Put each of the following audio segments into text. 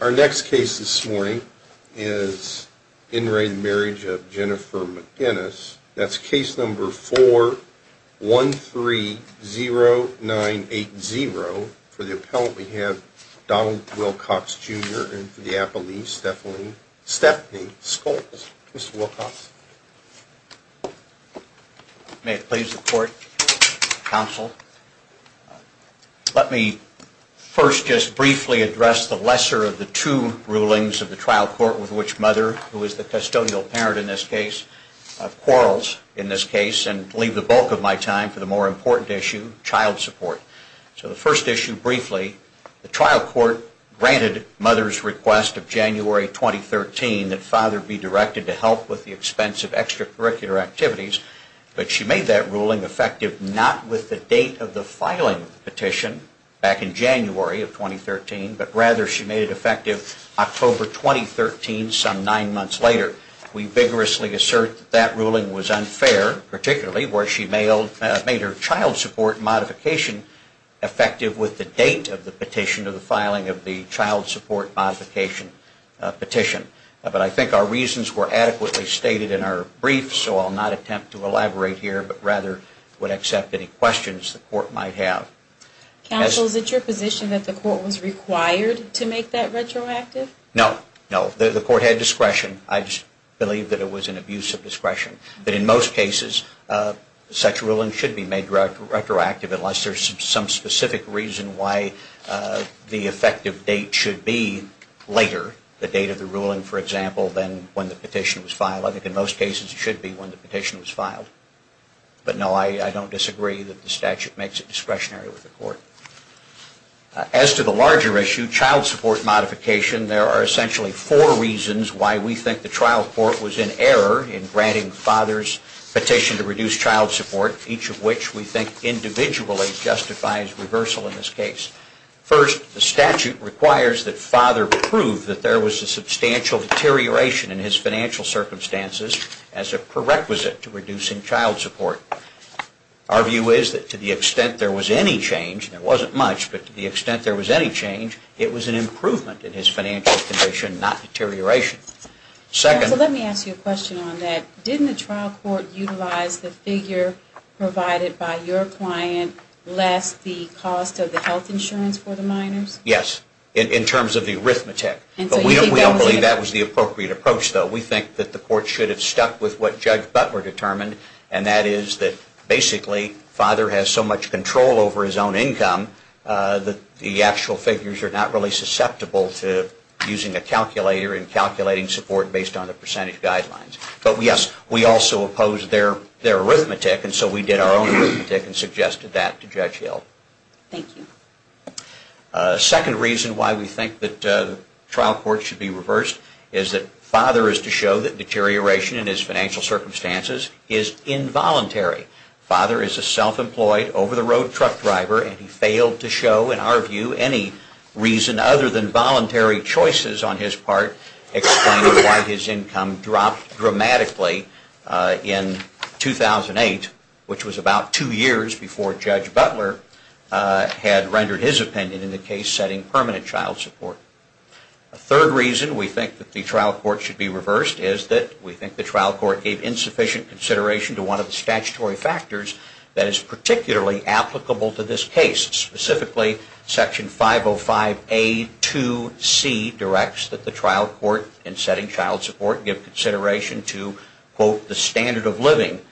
Our next case this morning is in re Marriage of Jennifer McGinnis. That's case number 4130980. For the appellant we have Donald Wilcox, Jr. And for the appellee, Stephanie Schultz. Mr. Wilcox. May it please the court, counsel. Let me first just briefly address the lesser of the two rulings of the trial court with which mother, who is the custodial parent in this case, quarrels in this case, and leave the bulk of my time for the more important issue, child support. So the first issue briefly, the trial court granted mother's request of January 2013 that father be directed to help with the expenses of child support. And the expense of extracurricular activities. But she made that ruling effective not with the date of the filing petition back in January of 2013, but rather she made it effective October 2013, some nine months later. We vigorously assert that ruling was unfair, particularly where she made her child support modification effective with the date of the petition of the filing of the child support modification petition. But I think our reasons were adequately stated in our brief, so I'll not attempt to elaborate here, but rather would accept any questions the court might have. Counsel, is it your position that the court was required to make that retroactive? No. No. The court had discretion. I just believe that it was an abuse of discretion. But in most cases, such a ruling should be made retroactive unless there's some specific reason why the effective date should be later, the date of the ruling, for example, than when the petition was filed. I think in most cases it should be when the petition was filed. But no, I don't disagree that the statute makes it discretionary with the court. As to the larger issue, child support modification, there are essentially four reasons why we think the trial court was in error in granting the father's petition to reduce child support, each of which we think individually justifies reversal in this case. First, the statute requires that father prove that there was a substantial deterioration in his financial circumstances as a prerequisite to reducing child support. Our view is that to the extent there was any change, and there wasn't much, but to the extent there was any change, it was an improvement in his financial condition, not deterioration. So let me ask you a question on that. Didn't the trial court utilize the figure provided by your client less the cost of the health insurance for the minors? Yes, in terms of the arithmetic. But we don't believe that was the appropriate approach, though. We think that the court should have stuck with what Judge Butler determined, and that is that basically father has so much control over his own income that the actual figures are not really susceptible to using a calculator and calculating support based on the percentage guidelines. But yes, we also oppose their arithmetic, and so we did our own arithmetic and suggested that to Judge Hill. Thank you. Second reason why we think that the trial court should be reversed is that father is to show that deterioration in his financial circumstances is involuntary. Father is a self-employed, over-the-road truck driver, and he failed to show, in our view, any reason other than voluntary choices on his part explaining why his income dropped dramatically in 2008, which was about two years before Judge Butler had rendered his opinion in the case setting permanent child support. A third reason we think that the trial court should be reversed is that we think the trial court gave insufficient consideration to one of the statutory factors that is particularly applicable to this case, specifically Section 505A2C directs that the trial court in setting child support give consideration to, quote, the standard of living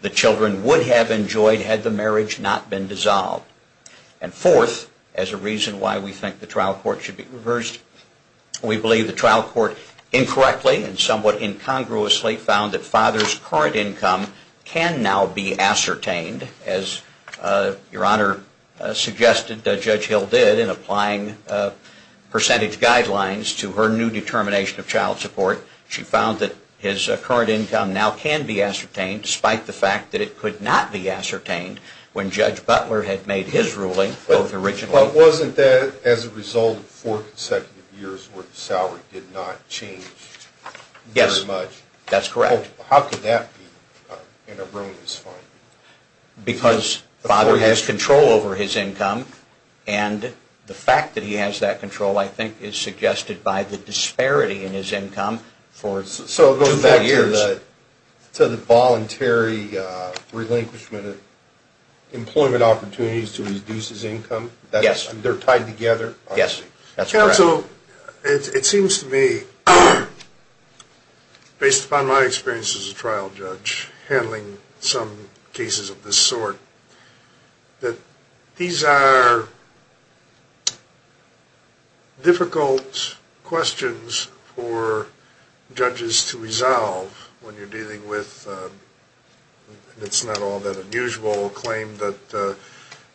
the children would have enjoyed had the marriage not been dissolved. And fourth, as a reason why we think the trial court should be reversed, we believe the trial court incorrectly and somewhat incongruously found that father's current income can now be ascertained, as Your Honor suggested Judge Hill did in applying percentage guidelines to her new determination of child support. She found that his current income now can be ascertained, despite the fact that it could not be ascertained when Judge Butler had made his ruling. But wasn't that as a result of four consecutive years where the salary did not change very much? Yes, that's correct. How could that be in a ruinous finding? Because the father has control over his income, and the fact that he has that control I think is suggested by the disparity in his income for two, three years. So it goes back to the voluntary relinquishment of employment opportunities to reduce his income? Yes. They're tied together? Yes, that's correct. It seems to me, based upon my experience as a trial judge handling some cases of this sort, that these are difficult questions for judges to resolve when you're dealing with, it's not all that unusual, a claim that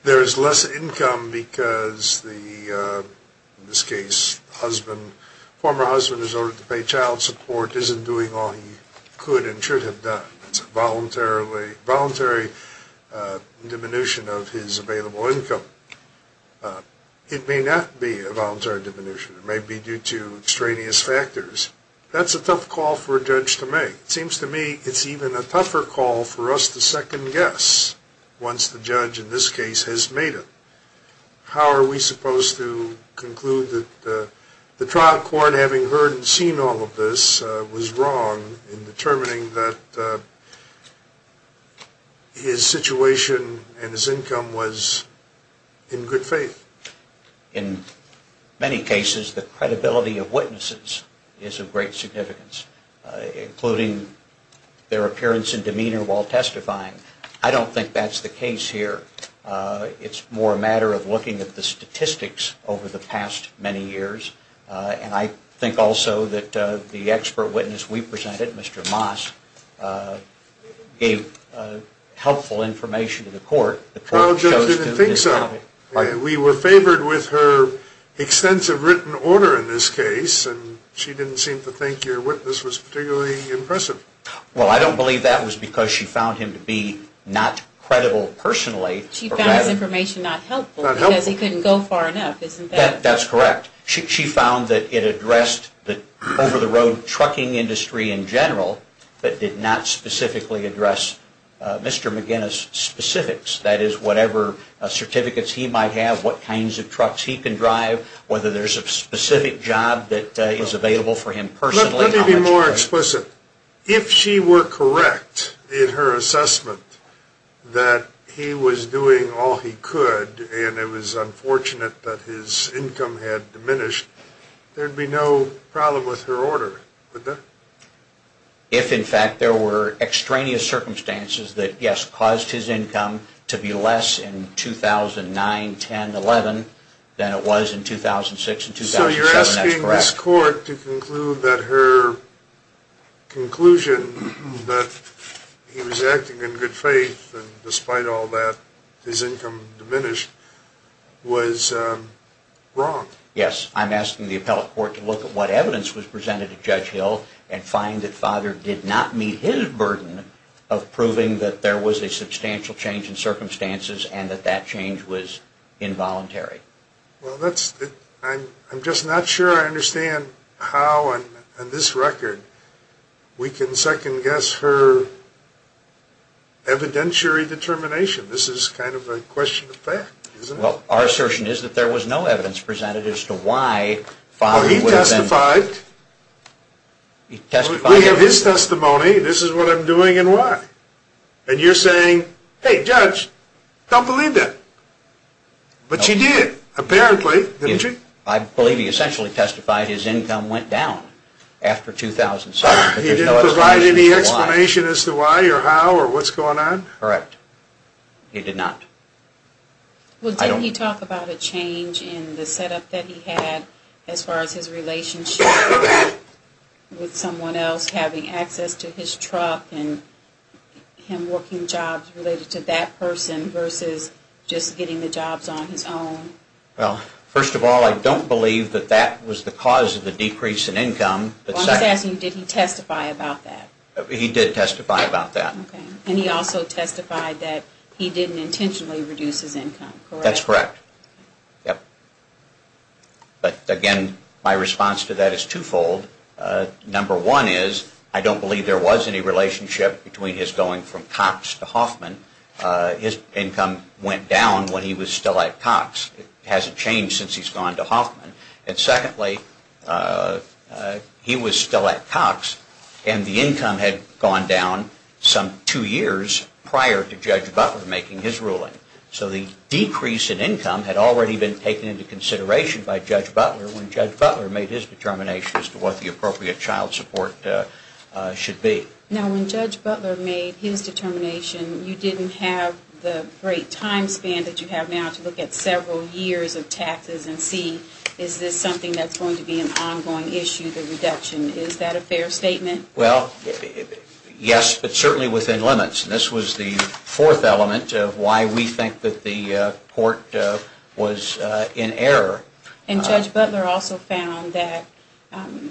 there is less income because the, in this case, the father's current income can be ascertained. In this case, the former husband has ordered to pay child support, isn't doing all he could and should have done. It's a voluntary diminution of his available income. It may not be a voluntary diminution. It may be due to extraneous factors. That's a tough call for a judge to make. It seems to me it's even a tougher call for us to second guess once the judge, in this case, has made it. How are we supposed to conclude that the trial court, having heard and seen all of this, was wrong in determining that his situation and his income was in good faith? In many cases, the credibility of witnesses is of great significance, including their appearance and demeanor while testifying. I don't think that's the case here. It's more a matter of looking at the statistics over the past many years. And I think also that the expert witness we presented, Mr. Moss, gave helpful information to the court. The court chose to discount it. Well, Judge didn't think so. We were favored with her extensive written order in this case, and she didn't seem to think your witness was particularly impressive. Well, I don't believe that was because she found him to be not credible personally. She found his information not helpful because he couldn't go far enough, isn't that right? That's correct. She found that it addressed the over-the-road trucking industry in general, but did not specifically address Mr. McGinnis' specifics. That is, whatever certificates he might have, what kinds of trucks he can drive, whether there's a specific job that is available for him personally. Let me be more explicit. If she were correct in her assessment that he was doing all he could and it was unfortunate that his income had diminished, there would be no problem with her order, would there? If, in fact, there were extraneous circumstances that, yes, caused his income to be less in 2009, 10, 11 than it was in 2006 and 2007, that's correct. So you're asking this court to conclude that her conclusion that he was acting in good faith and despite all that his income diminished was wrong? Yes, I'm asking the appellate court to look at what evidence was presented to Judge Hill and find that Father did not meet his burden of proving that there was a substantial change in circumstances and that that change was involuntary. Well, I'm just not sure I understand how on this record we can second-guess her evidentiary determination. This is kind of a question of fact, isn't it? Well, our assertion is that there was no evidence presented as to why Father would have been… Well, he testified. He testified? We have his testimony. This is what I'm doing and why. And you're saying, hey, Judge, don't believe that. But she did, apparently, didn't she? I believe he essentially testified his income went down after 2007. He didn't provide any explanation as to why or how or what's going on? Correct. He did not. Well, didn't he talk about a change in the setup that he had as far as his relationship with someone else having access to his truck and him working jobs related to that person versus just getting the jobs on his own? Well, first of all, I don't believe that that was the cause of the decrease in income. Well, I'm just asking, did he testify about that? He did testify about that. Okay. And he also testified that he didn't intentionally reduce his income, correct? That's correct. Yep. But, again, my response to that is twofold. Number one is I don't believe there was any relationship between his going from Cox to Hoffman. His income went down when he was still at Cox. It hasn't changed since he's gone to Hoffman. And secondly, he was still at Cox and the income had gone down some two years prior to Judge Butler making his ruling. So the decrease in income had already been taken into consideration by Judge Butler when Judge Butler made his determination as to what the appropriate child support should be. Now, when Judge Butler made his determination, you didn't have the great time span that you have now to look at several years of taxes and see is this something that's going to be an ongoing issue, the reduction. Is that a fair statement? Well, yes, but certainly within limits. And this was the fourth element of why we think that the court was in error. And Judge Butler also found that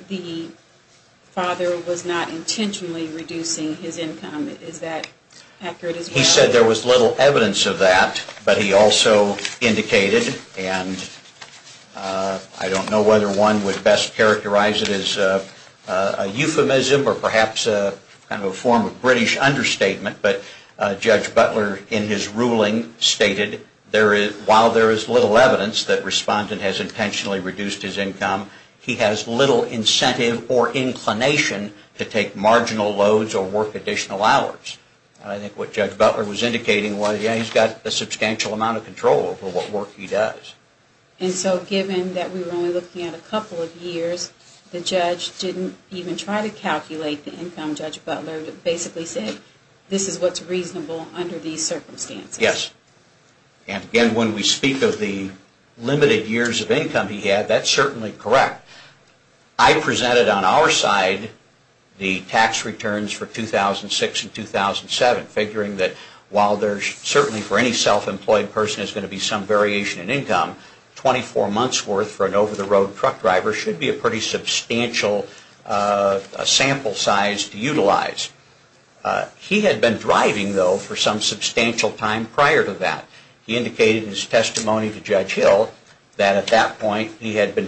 the father was not intentionally reducing his income. Is that accurate as well? He said there was little evidence of that, but he also indicated, and I don't know whether one would best characterize it as a euphemism or perhaps a form of British understatement, but Judge Butler in his ruling stated while there is little evidence that the respondent has intentionally reduced his income, he has little incentive or inclination to take marginal loads or work additional hours. I think what Judge Butler was indicating was he's got a substantial amount of control over what work he does. And so given that we were only looking at a couple of years, the judge didn't even try to calculate the income, Judge Butler, but basically said this is what's reasonable under these circumstances. Yes. And again, when we speak of the limited years of income he had, that's certainly correct. I presented on our side the tax returns for 2006 and 2007, figuring that while there's certainly for any self-employed person is going to be some variation in income, 24 months' worth for an over-the-road truck driver should be a pretty substantial sample size to utilize. He had been driving, though, for some substantial time prior to that. He indicated in his testimony to Judge Hill that at that point he had been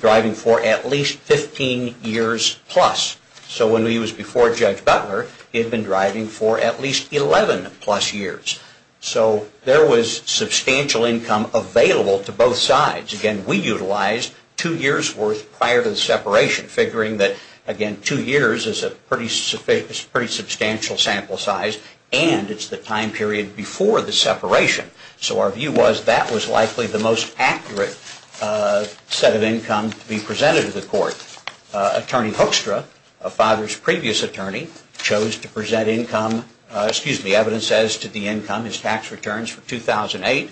driving for at least 15 years plus. So when he was before Judge Butler, he had been driving for at least 11 plus years. So there was substantial income available to both sides. Again, we utilized two years' worth prior to the separation, figuring that, again, two years is a pretty substantial sample size, and it's the time period before the separation. So our view was that was likely the most accurate set of income to be presented to the court. Attorney Hoekstra, a father's previous attorney, chose to present income, excuse me, evidence as to the income, his tax returns for 2008,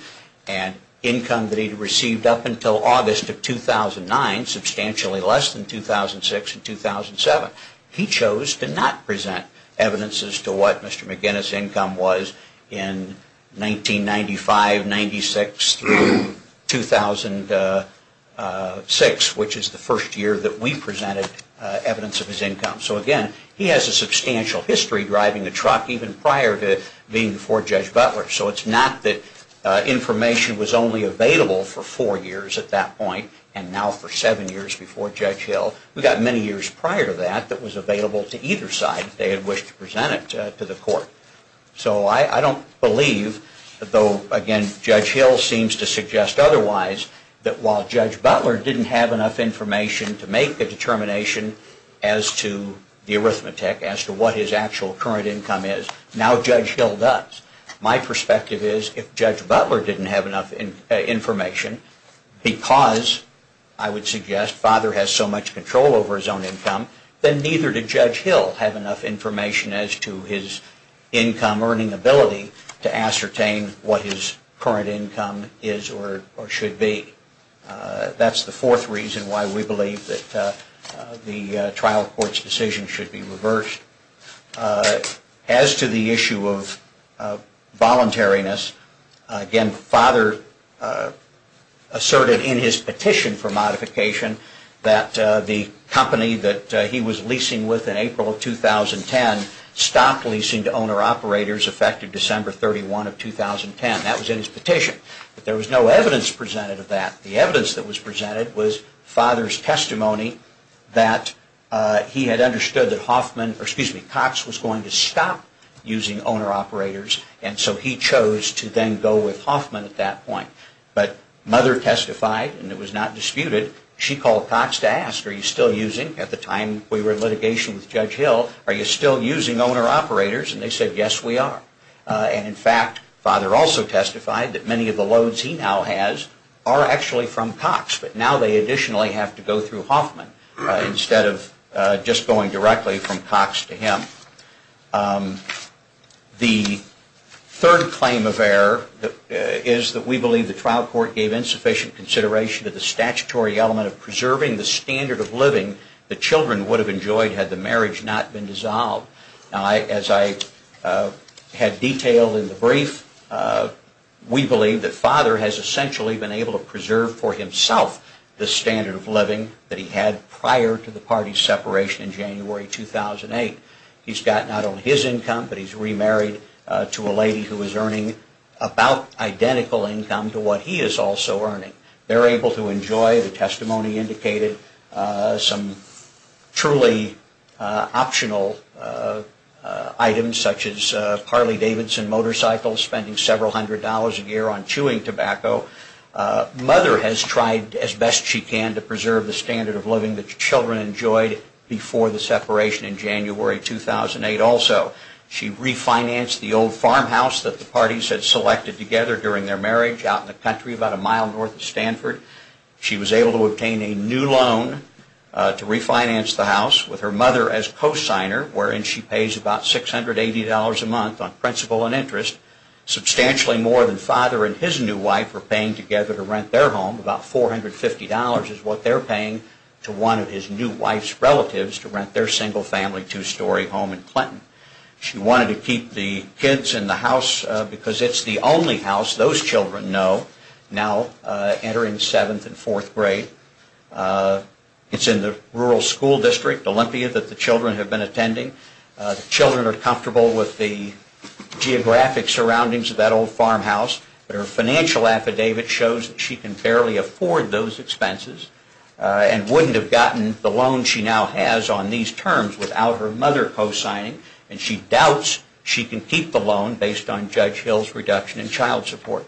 and income that he had received up until August of 2009, substantially less than 2006 and 2007. He chose to not present evidence as to what Mr. McGinnis' income was in 1995, 1996 through 2006, which is the first year that we presented evidence of his income. So again, he has a substantial history driving a truck even prior to being before Judge Butler. So it's not that information was only available for four years at that point and now for seven years before Judge Hill. We've got many years prior to that that was available to either side if they had wished to present it to the court. So I don't believe, though again Judge Hill seems to suggest otherwise, that while Judge Butler didn't have enough information to make a determination as to the arithmetic, as to what his actual current income is, now Judge Hill does. My perspective is if Judge Butler didn't have enough information because, I would suggest, father has so much control over his own income, then neither did Judge Hill have enough information as to his income earning ability to ascertain what his current income is or should be. That's the fourth reason why we believe that the trial court's decision should be reversed. As to the issue of voluntariness, again father asserted in his petition for modification that the company that he was leasing with in April of 2010 stopped leasing to owner-operators effective December 31 of 2010. That was in his petition. But there was no evidence presented of that. The evidence that was presented was father's testimony that he had understood that Cox was going to stop using owner-operators and so he chose to then go with Hoffman at that point. But mother testified, and it was not disputed, she called Cox to ask, are you still using, at the time we were in litigation with Judge Hill, are you still using owner-operators? And they said, yes we are. And in fact, father also testified that many of the loans he now has are actually from Cox, but now they additionally have to go through Hoffman instead of just going directly from Cox to him. The third claim of error is that we believe the trial court gave insufficient consideration to the statutory element of preserving the standard of living the children would have enjoyed had the marriage not been dissolved. As I had detailed in the brief, we believe that father has essentially been able to preserve for himself the standard of living that he had prior to the party's separation in January 2008. He's got not only his income, but he's remarried to a lady who is earning about identical income to what he is also earning. They're able to enjoy, the testimony indicated, some truly optional items, such as Carly Davidson motorcycles, spending several hundred dollars a year on chewing tobacco. Mother has tried as best she can to preserve the standard of living the children enjoyed before the separation in January 2008 also. She refinanced the old farmhouse that the parties had selected together during their marriage out in the country about a mile north of Stanford. She was able to obtain a new loan to refinance the house with her mother as co-signer, wherein she pays about $680 a month on principal and interest, substantially more than father and his new wife were paying together to rent their home. About $450 is what they're paying to one of his new wife's relatives to rent their single-family, two-story home in Clinton. She wanted to keep the kids in the house because it's the only house those children know now entering seventh and fourth grade. It's in the rural school district, Olympia, that the children have been attending. The children are comfortable with the geographic surroundings of that old farmhouse, but her financial affidavit shows that she can barely afford those expenses and wouldn't have gotten the loan she now has on these terms without her mother co-signing, and she doubts she can keep the loan based on Judge Hill's reduction in child support.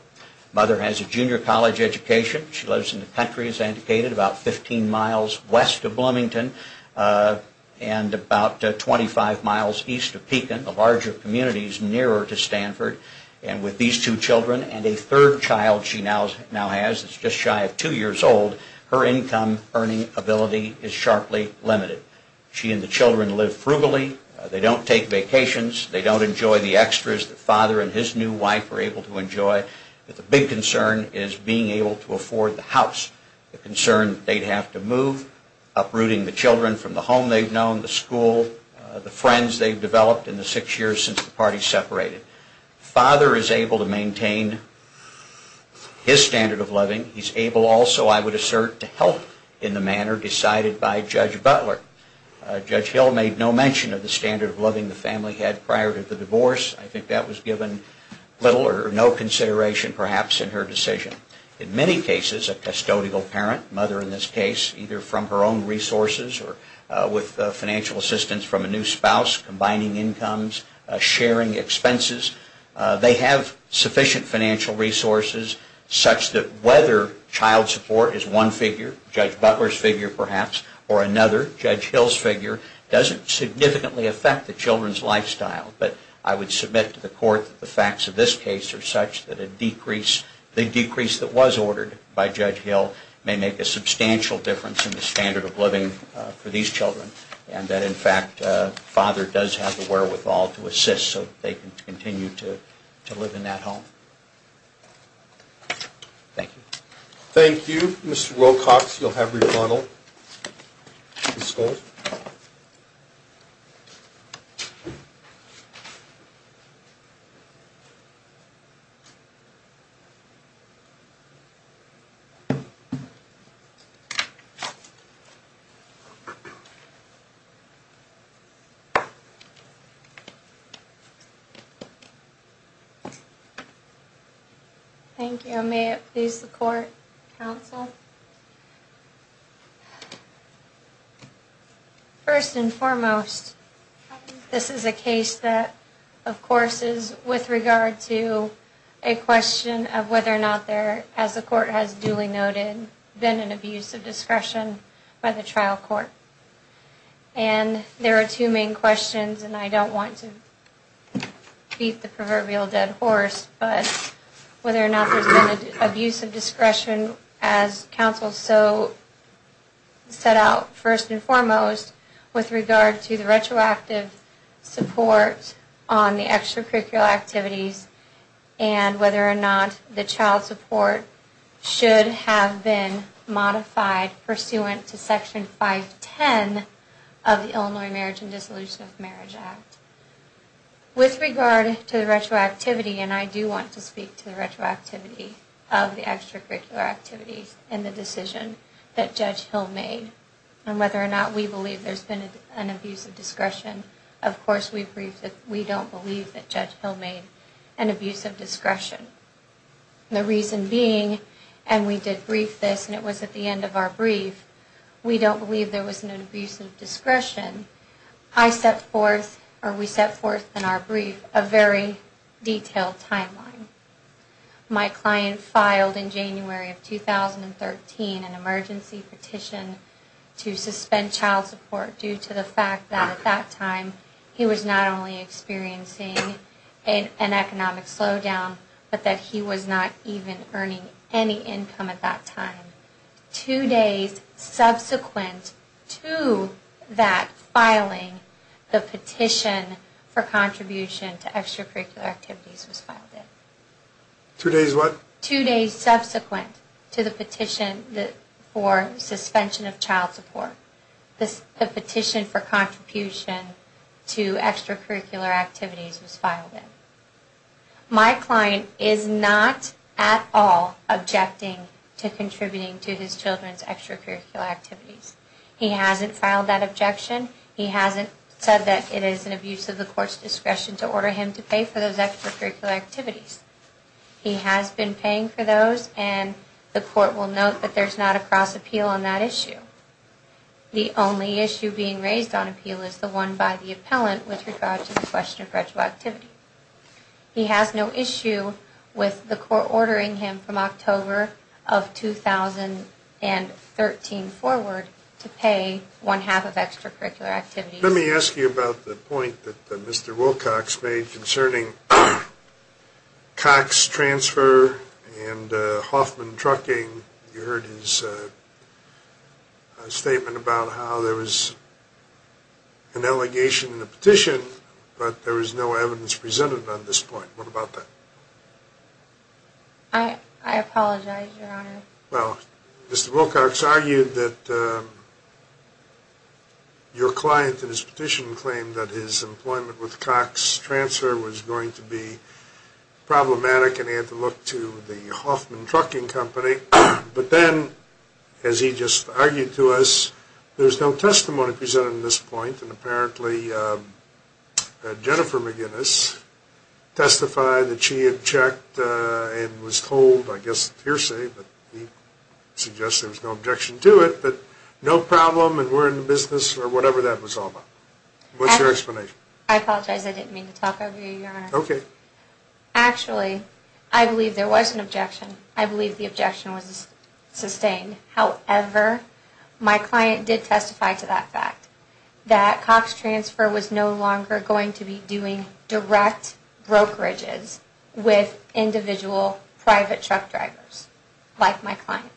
Mother has a junior college education. She lives in the country, as I indicated, about 15 miles west of Bloomington and about 25 miles east of Pekin, the larger communities nearer to Stanford. And with these two children and a third child she now has that's just shy of two years old, her income earning ability is sharply limited. She and the children live frugally. They don't take vacations. They don't enjoy the extras that father and his new wife are able to enjoy. But the big concern is being able to afford the house, the concern they'd have to move, uprooting the children from the home they've known, the school, the friends they've developed in the six years since the party separated. Father is able to maintain his standard of living. He's able also, I would assert, to help in the manner decided by Judge Butler. Judge Hill made no mention of the standard of living the family had prior to the divorce. I think that was given little or no consideration perhaps in her decision. In many cases a custodial parent, mother in this case, either from her own resources or with financial assistance from a new spouse, combining incomes, sharing expenses, they have sufficient financial resources such that whether child support is one figure, Judge Butler's figure perhaps, or another, Judge Hill's figure, doesn't significantly affect the children's lifestyle. But I would submit to the court that the facts of this case are such that a decrease, the decrease that was ordered by Judge Hill may make a substantial difference in the standard of living for these children and that, in fact, the father does have the wherewithal to assist so that they can continue to live in that home. Thank you. Thank you. Mr. Wilcox, you'll have rebuttal. Ms. Schultz? Thank you. May it please the court, counsel? First and foremost, this is a case that, of course, is with regard to a question of whether or not there, as the court has duly noted, been an abuse of discretion by the trial court. And there are two main questions, and I don't want to beat the proverbial dead horse, but whether or not there's been an abuse of discretion, as counsel so set out, first and foremost, with regard to the retroactive support on the extracurricular activities and whether or not the child support should have been modified pursuant to Section 510 of the Illinois Marriage and Dissolution of Marriage Act. With regard to the retroactivity, and I do want to speak to the retroactivity of the extracurricular activities and the decision that Judge Hill made, and whether or not we believe there's been an abuse of discretion. Of course, we don't believe that Judge Hill made an abuse of discretion. The reason being, and we did brief this, and it was at the end of our brief, we don't believe there was an abuse of discretion. I set forth, or we set forth in our brief, a very detailed timeline. My client filed in January of 2013 an emergency petition to suspend child support due to the fact that at that time, he was not only experiencing an economic slowdown, but that he was not even earning any income at that time. Two days subsequent to that filing, the petition for contribution to extracurricular activities was filed in. My client is not at all objecting to contributing to his children's extracurricular activities. He hasn't filed that objection. He hasn't said that it is an abuse of the Court's discretion to order him to pay for those extracurricular activities. He has been paying for those, and the Court will note that there's not a cross appeal on that issue. The only issue being raised on appeal is the one by the appellant with regard to the question of retroactivity. He has no issue with the Court ordering him from October of 2013 forward to pay one-half of extracurricular activities. Let me ask you about the point that Mr. Wilcox made concerning Cox Transfer and Hoffman Trucking. You heard his statement about how there was an allegation in the petition, but there was no evidence presented on this point. What about that? I apologize, Your Honor. Well, Mr. Wilcox argued that your client in his petition claimed that his employment with Cox Transfer was going to be problematic, and he had to look to the Hoffman Trucking Company. But then, as he just argued to us, there's no testimony presented on this point, and apparently Jennifer McGinnis testified that she had checked and was told, I guess, hearsay, but he suggested there was no objection to it, but no problem and we're in the business, or whatever that was all about. What's your explanation? I apologize, I didn't mean to talk over you, Your Honor. Actually, I believe there was an objection. I believe the objection was sustained. However, my client did testify to that fact, that Cox Transfer was no longer going to be doing direct brokerages with individual private truck drivers like my client.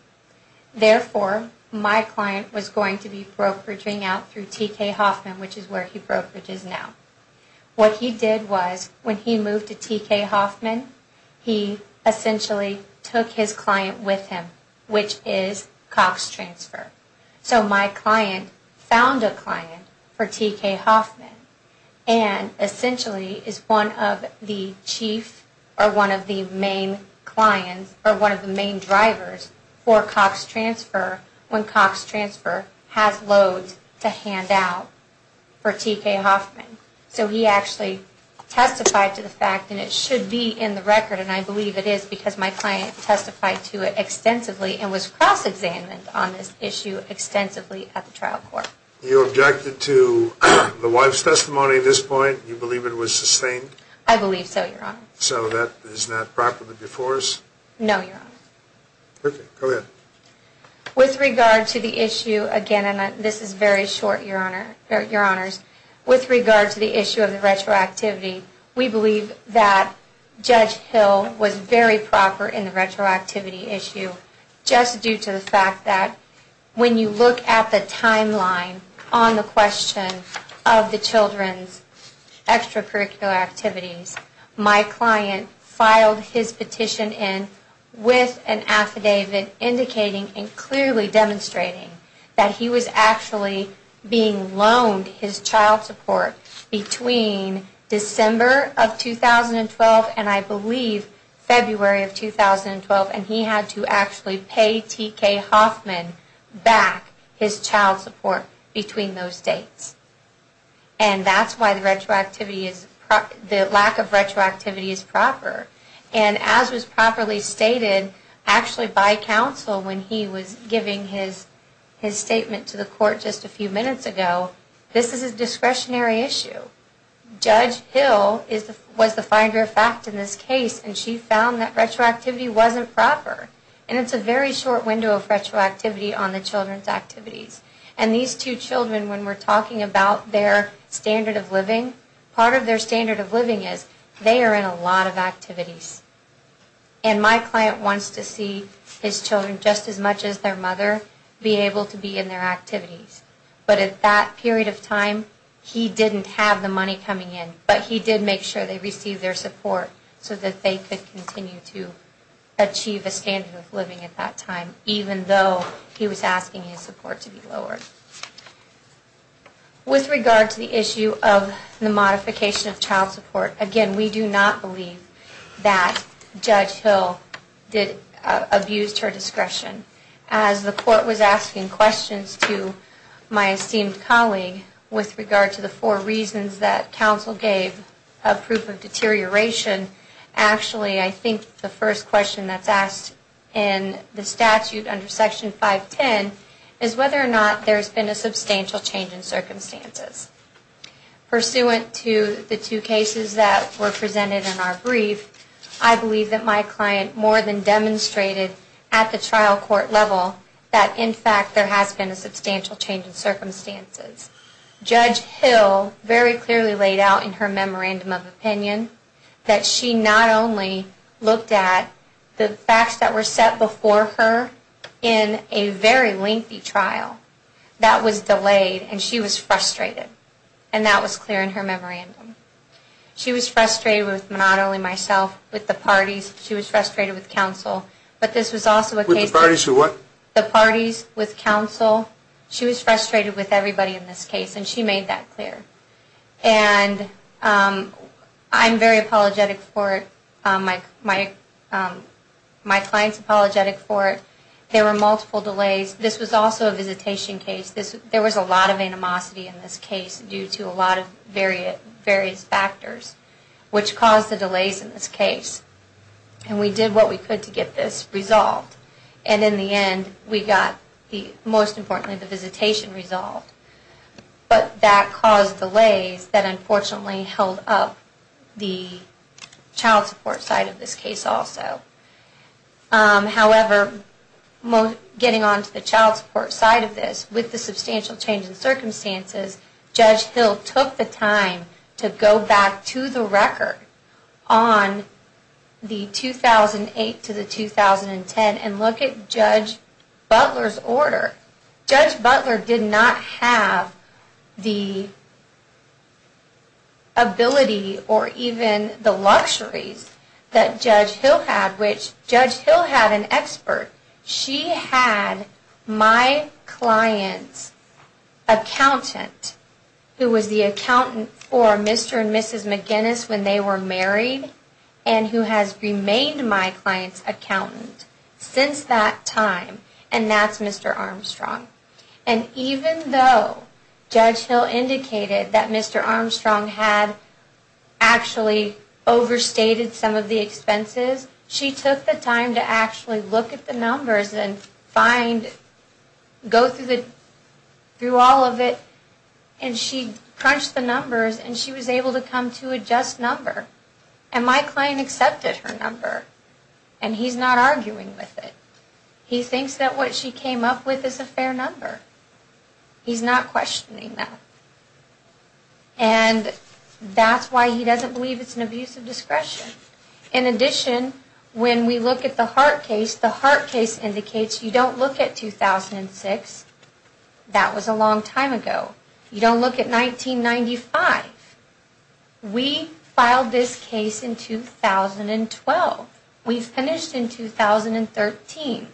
Therefore, my client was going to be brokeraging out through T.K. Hoffman, which is where he brokerages now. What he did was, when he moved to T.K. Hoffman, he essentially took his client with him, which is Cox Transfer. So my client found a client for T.K. Hoffman, and essentially is one of the chief, or one of the main clients, or one of the main drivers, for Cox Transfer when Cox Transfer has loads to hand out for T.K. Hoffman. So he actually testified to the fact, and it should be in the record, and I believe it is, because my client testified to it extensively and was cross-examined on this issue extensively at the trial court. You objected to the wife's testimony at this point? You believe it was sustained? I believe so, Your Honor. So that is not properly before us? No, Your Honor. Okay, go ahead. With regard to the issue, again, and this is very short, Your Honors, with regard to the issue of the retroactivity, my client filed his petition in with an affidavit indicating and clearly demonstrating that he was actually being loaned his child support between December of 2012 and, I believe, February of 2012, and he had to actually pay T.K. Hoffman back his child support between those dates. And that's why the lack of retroactivity is proper. And as was properly stated actually by counsel when he was giving his statement to the court just a few minutes ago, this is a discretionary issue. Judge Hill was the finder of fact in this case, and she found that retroactivity wasn't proper. And it's a very short window of retroactivity on the children's activities. And when we talk about their standard of living, part of their standard of living is they are in a lot of activities. And my client wants to see his children just as much as their mother be able to be in their activities. But at that period of time, he didn't have the money coming in, but he did make sure they received their support so that they could continue to achieve a standard of living at that time, even though he was asking his support to be lowered. With regard to the issue of the modification of child support, again, we do not believe that Judge Hill abused her discretion. As the court was asking questions to my esteemed colleague with regard to the four reasons that counsel gave of proof of deterioration, actually, I think the first question that's asked in the statute under Section 510 is whether or not there's been a substantial change in circumstance. Pursuant to the two cases that were presented in our brief, I believe that my client more than demonstrated at the trial court level that, in fact, there has been a substantial change in circumstances. Judge Hill very clearly laid out in her memorandum of opinion that she not only looked at the facts that were set before her in a very lengthy trial. That was delayed, and she was frustrated, and that was clear in her memorandum. She was frustrated with not only myself, with the parties, she was frustrated with counsel, but this was also a case of the parties with counsel. She was frustrated with everybody in this case, and she made that clear. And I'm very apologetic for it. My client's apologetic for it. There were multiple delays. This was also a visitation case. There was a lot of animosity in this case due to a lot of various factors, which caused the delays in this case. And we did what we could to get this resolved. And in the end, we got the, most importantly, the visitation resolved. But that caused delays that unfortunately held up the child support side of this case also. However, getting on to the child support side of this, with the substantial change in circumstances, Judge Hill took the time to go back to the record on the 2008 to the 2010 and the 2012 trials. And look at Judge Butler's order. Judge Butler did not have the ability or even the luxuries that Judge Hill had, which Judge Hill had an expert. She had my client's accountant, who was the accountant for Mr. and Mrs. McGinnis when they were married, and who has remained my client's accountant since then. And that's Mr. Armstrong. And even though Judge Hill indicated that Mr. Armstrong had actually overstated some of the expenses, she took the time to actually look at the numbers and find, go through all of it, and she crunched the numbers and she was able to come to a just number. And my client accepted her number. And he's not arguing with it. He thinks that what she came up with is a fair number. He's not questioning that. And that's why he doesn't believe it's an abuse of discretion. In addition, when we look at the Hart case, the Hart case indicates you don't look at 2006. That was a long time ago. You don't look at 1995. We filed this case in 2012. We finished in 2013.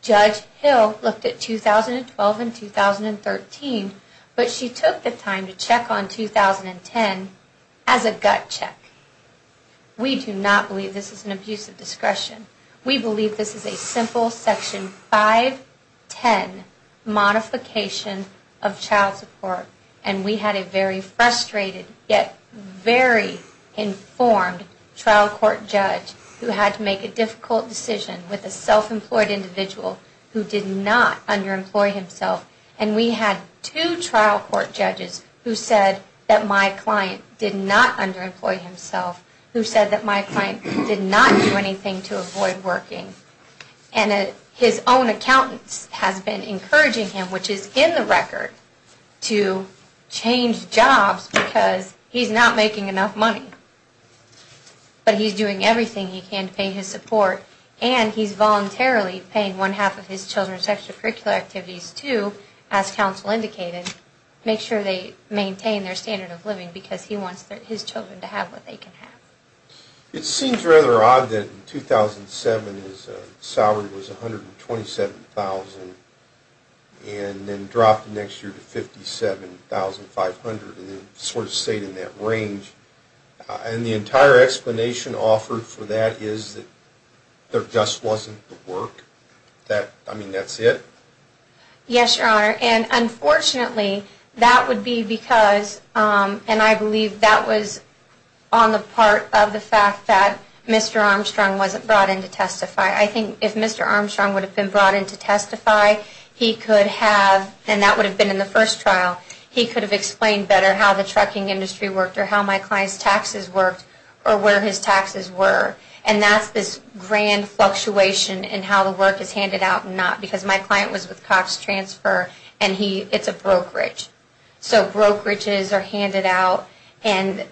Judge Hill looked at 2012 and 2013, but she took the time to check on 2010 as a gut check. We do not believe this is an abuse of discretion. We believe this is a simple Section 510 modification of child support. And we had a very frustrated, yet very informed trial court judge who had to make a difficult decision with a self-examination. He was a self-employed individual who did not underemploy himself. And we had two trial court judges who said that my client did not underemploy himself, who said that my client did not do anything to avoid working. And his own accountant has been encouraging him, which is in the record, to change jobs because he's not making enough money. But he's doing everything he can to pay his support, and he's voluntarily paying one-half of his children's extracurricular activities, too, as counsel indicated, to make sure they maintain their standard of living because he wants his children to have what they can have. It seems rather odd that in 2007 his salary was $127,000 and then dropped the next year to $57,500. And the entire explanation offered for that is that there just wasn't the work. I mean, that's it? Yes, Your Honor, and unfortunately that would be because, and I believe that was on the part of the fact that Mr. Armstrong wasn't brought in to testify. I think if Mr. Armstrong would have been brought in to testify, he could have, and that would have been in the first trial, he could have explained better how the trucking industry worked or how my client's taxes worked or where his taxes were. And that's this grand fluctuation in how the work is handed out and not, because my client was with Cox Transfer, and it's a brokerage. So brokerages are handed out. And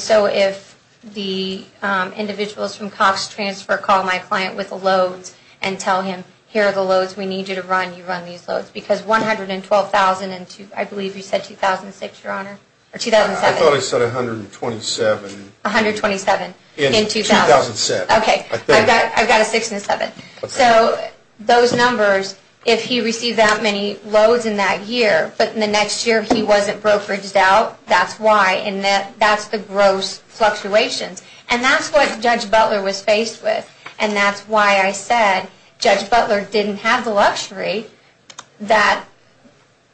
so if the individuals from Cox Transfer call my client with the loads and tell him, here are the loads we need you to run, you run these loads, because $112,000 in, I believe you said 2006, Your Honor, or 2007. I thought I said $127,000. $127,000 in 2007. Okay, I've got a six and a seven. So those numbers, if he received that many loads in that year, but in the next year he wasn't brokeraged out, that's why. And that's the gross fluctuations. And that's what Judge Butler was faced with. And that's why I said Judge Butler didn't have the luxury that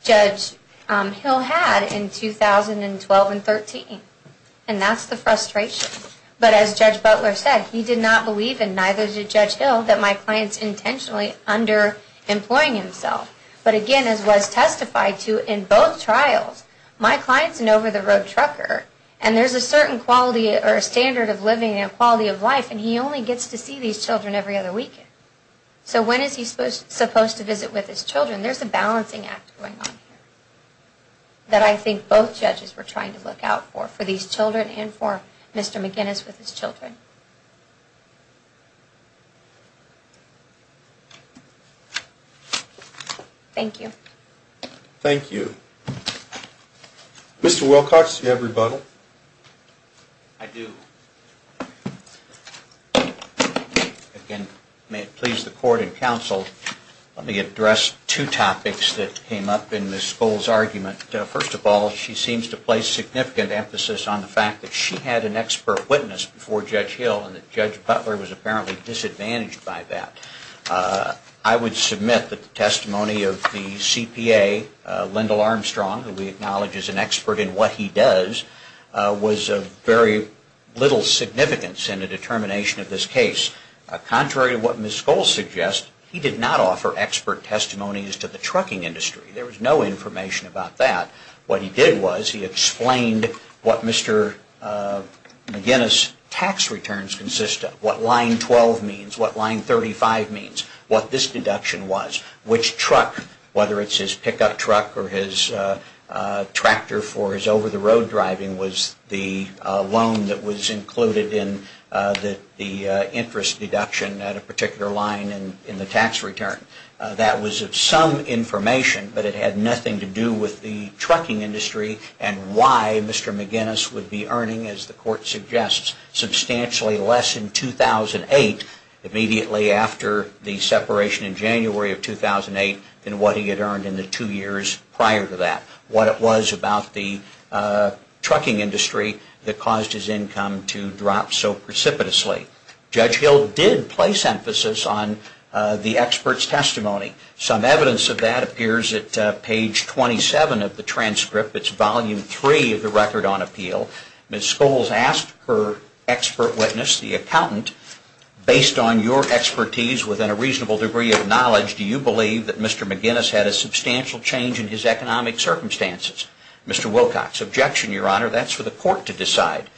Judge Hill had in 2012 and 2013. And that's the frustration. But as Judge Butler said, he did not believe, and neither did Judge Hill, that my client's intentionally underemploying himself. But again, as was testified to in both trials, my client's an over-the-road trucker, and there's a certain standard of living and quality of life, and he only gets to see these children every other weekend. So when is he supposed to visit with his children? There's a balancing act going on here that I think both judges were trying to look out for, for these children and for Mr. McGinnis with his children. Thank you. Thank you. Mr. Wilcox, do you have rebuttal? I do. Again, may it please the court and counsel, let me address two topics that came up in Ms. Skoll's argument. First of all, she seems to place significant emphasis on the fact that she had an expert witness before Judge Hill and that Judge Butler was apparently disadvantaged by that. I would submit that the testimony of the CPA, Lyndall Armstrong, who we acknowledge is an expert in what he does, was of very little significance in the determination of this case. Contrary to what Ms. Skoll suggests, he did not offer expert testimonies to the trucking industry. There was no information about that. What he did was he explained what Mr. McGinnis' tax returns consist of, what line 12 means, what line 35 means, what this deduction was, which truck, whether it's his pickup truck or his tractor for his over-the-road driving, was the loan that was included in the interest deduction at a particular line in the tax return. That was some information, but it had nothing to do with the trucking industry and why Mr. McGinnis would be earning, as the court suggests, substantially less in 2008, immediately after the separation in January of 2008, than what he had earned in the two years prior to that. What it was about the trucking industry that caused his income to drop so precipitously. Judge Hill did place emphasis on the expert's testimony. Some evidence of that appears at page 27 of the transcript. It's volume 3 of the Record on Appeal. Ms. Skoll has asked her expert witness, the accountant, based on your expertise within a reasonable degree of knowledge, do you believe that Mr. McGinnis had a substantial change in his economic circumstances? Mr. Wilcox, objection, Your Honor. That's for the court to decide.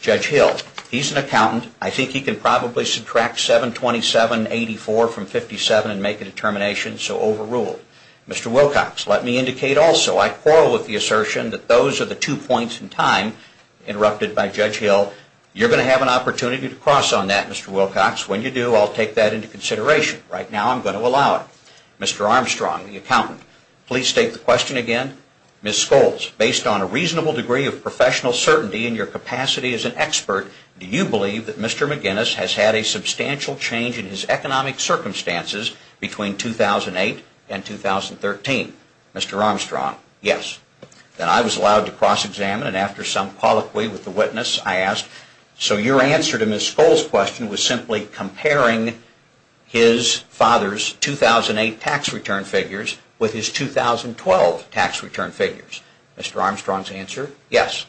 Judge Hill, he's an accountant. I think he can probably subtract 727.84 from 57 and make a determination, so overruled. Mr. Wilcox, let me indicate also, I quarrel with the assertion, that those are the two points in time interrupted by Judge Hill. You're going to have an opportunity to cross on that, Mr. Wilcox. When you do, I'll take that into consideration. Right now, I'm going to allow it. Mr. Armstrong, the accountant, please state the question again. Ms. Skoll, based on a reasonable degree of professional certainty and your capacity as an expert, do you believe that Mr. McGinnis has had a substantial change in his economic circumstances between 2008 and 2013? Mr. Armstrong, yes. Then I was allowed to cross-examine, and after some colloquy with the witness, I asked, so your answer to Ms. Skoll's question was simply comparing his father's 2008 tax return figures with his 2012 tax return figures? Mr. Armstrong's answer, yes.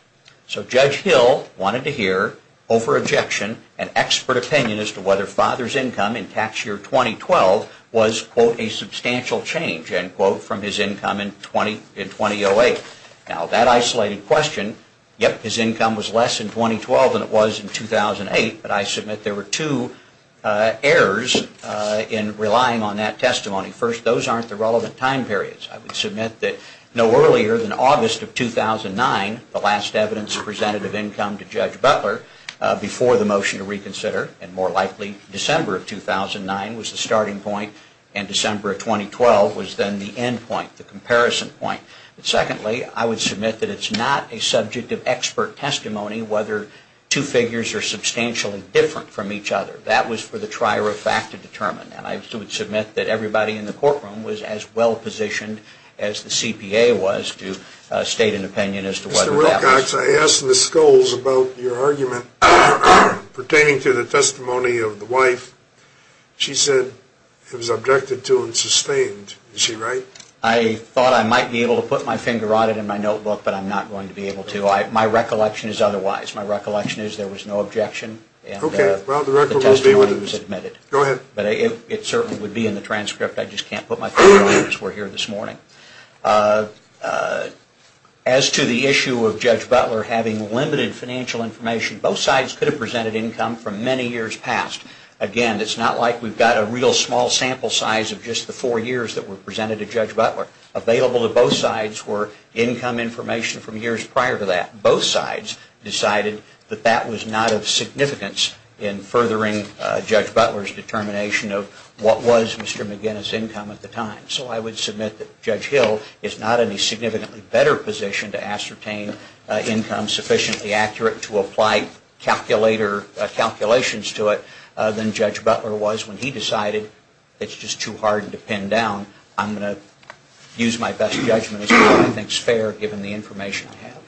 So Judge Hill wanted to hear, over objection, an expert opinion as to whether father's income in tax year 2012 was, quote, a substantial change, end quote, from his income in 2008. Now, that isolated question, yep, his income was less in 2012 than it was in 2008, but I submit there were two errors in relying on that testimony. First, those aren't the relevant time periods. I would submit that no earlier than August of 2009, the last evidence presented of income to Judge Butler before the motion to reconsider, and more likely December of 2009 was the starting point, and December of 2012 was then the end point, the comparison point. Secondly, I would submit that it's not a subject of expert testimony whether two figures are substantially different from each other. That was for the trier of fact to determine. And I would submit that everybody in the courtroom was as well positioned as the CPA was to state an opinion as to whether that was. Mr. Wilcox, I asked Ms. Scholes about your argument pertaining to the testimony of the wife. She said it was objected to and sustained. Is she right? I thought I might be able to put my finger on it in my notebook, but I'm not going to be able to. My recollection is otherwise. My recollection is there was no objection and the testimony was admitted. Go ahead. It certainly would be in the transcript. I just can't put my finger on it as we're here this morning. As to the issue of Judge Butler having limited financial information, both sides could have presented income from many years past. Again, it's not like we've got a real small sample size of just the four years that were presented to Judge Butler. Available to both sides were income information from years prior to that. Both sides decided that that was not of significance in furthering Judge Butler's determination of what was Mr. McGinnis' income at the time. So I would submit that Judge Hill is not in a significantly better position to ascertain income sufficiently accurate to apply calculations to it than Judge Butler was when he decided it's just too hard to pin down. I'm going to use my best judgment as to whether I think it's fair given the information I have.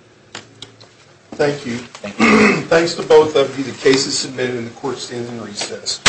Thank you. Thank you. Thanks to both of you. The case is submitted and the court stands in recess.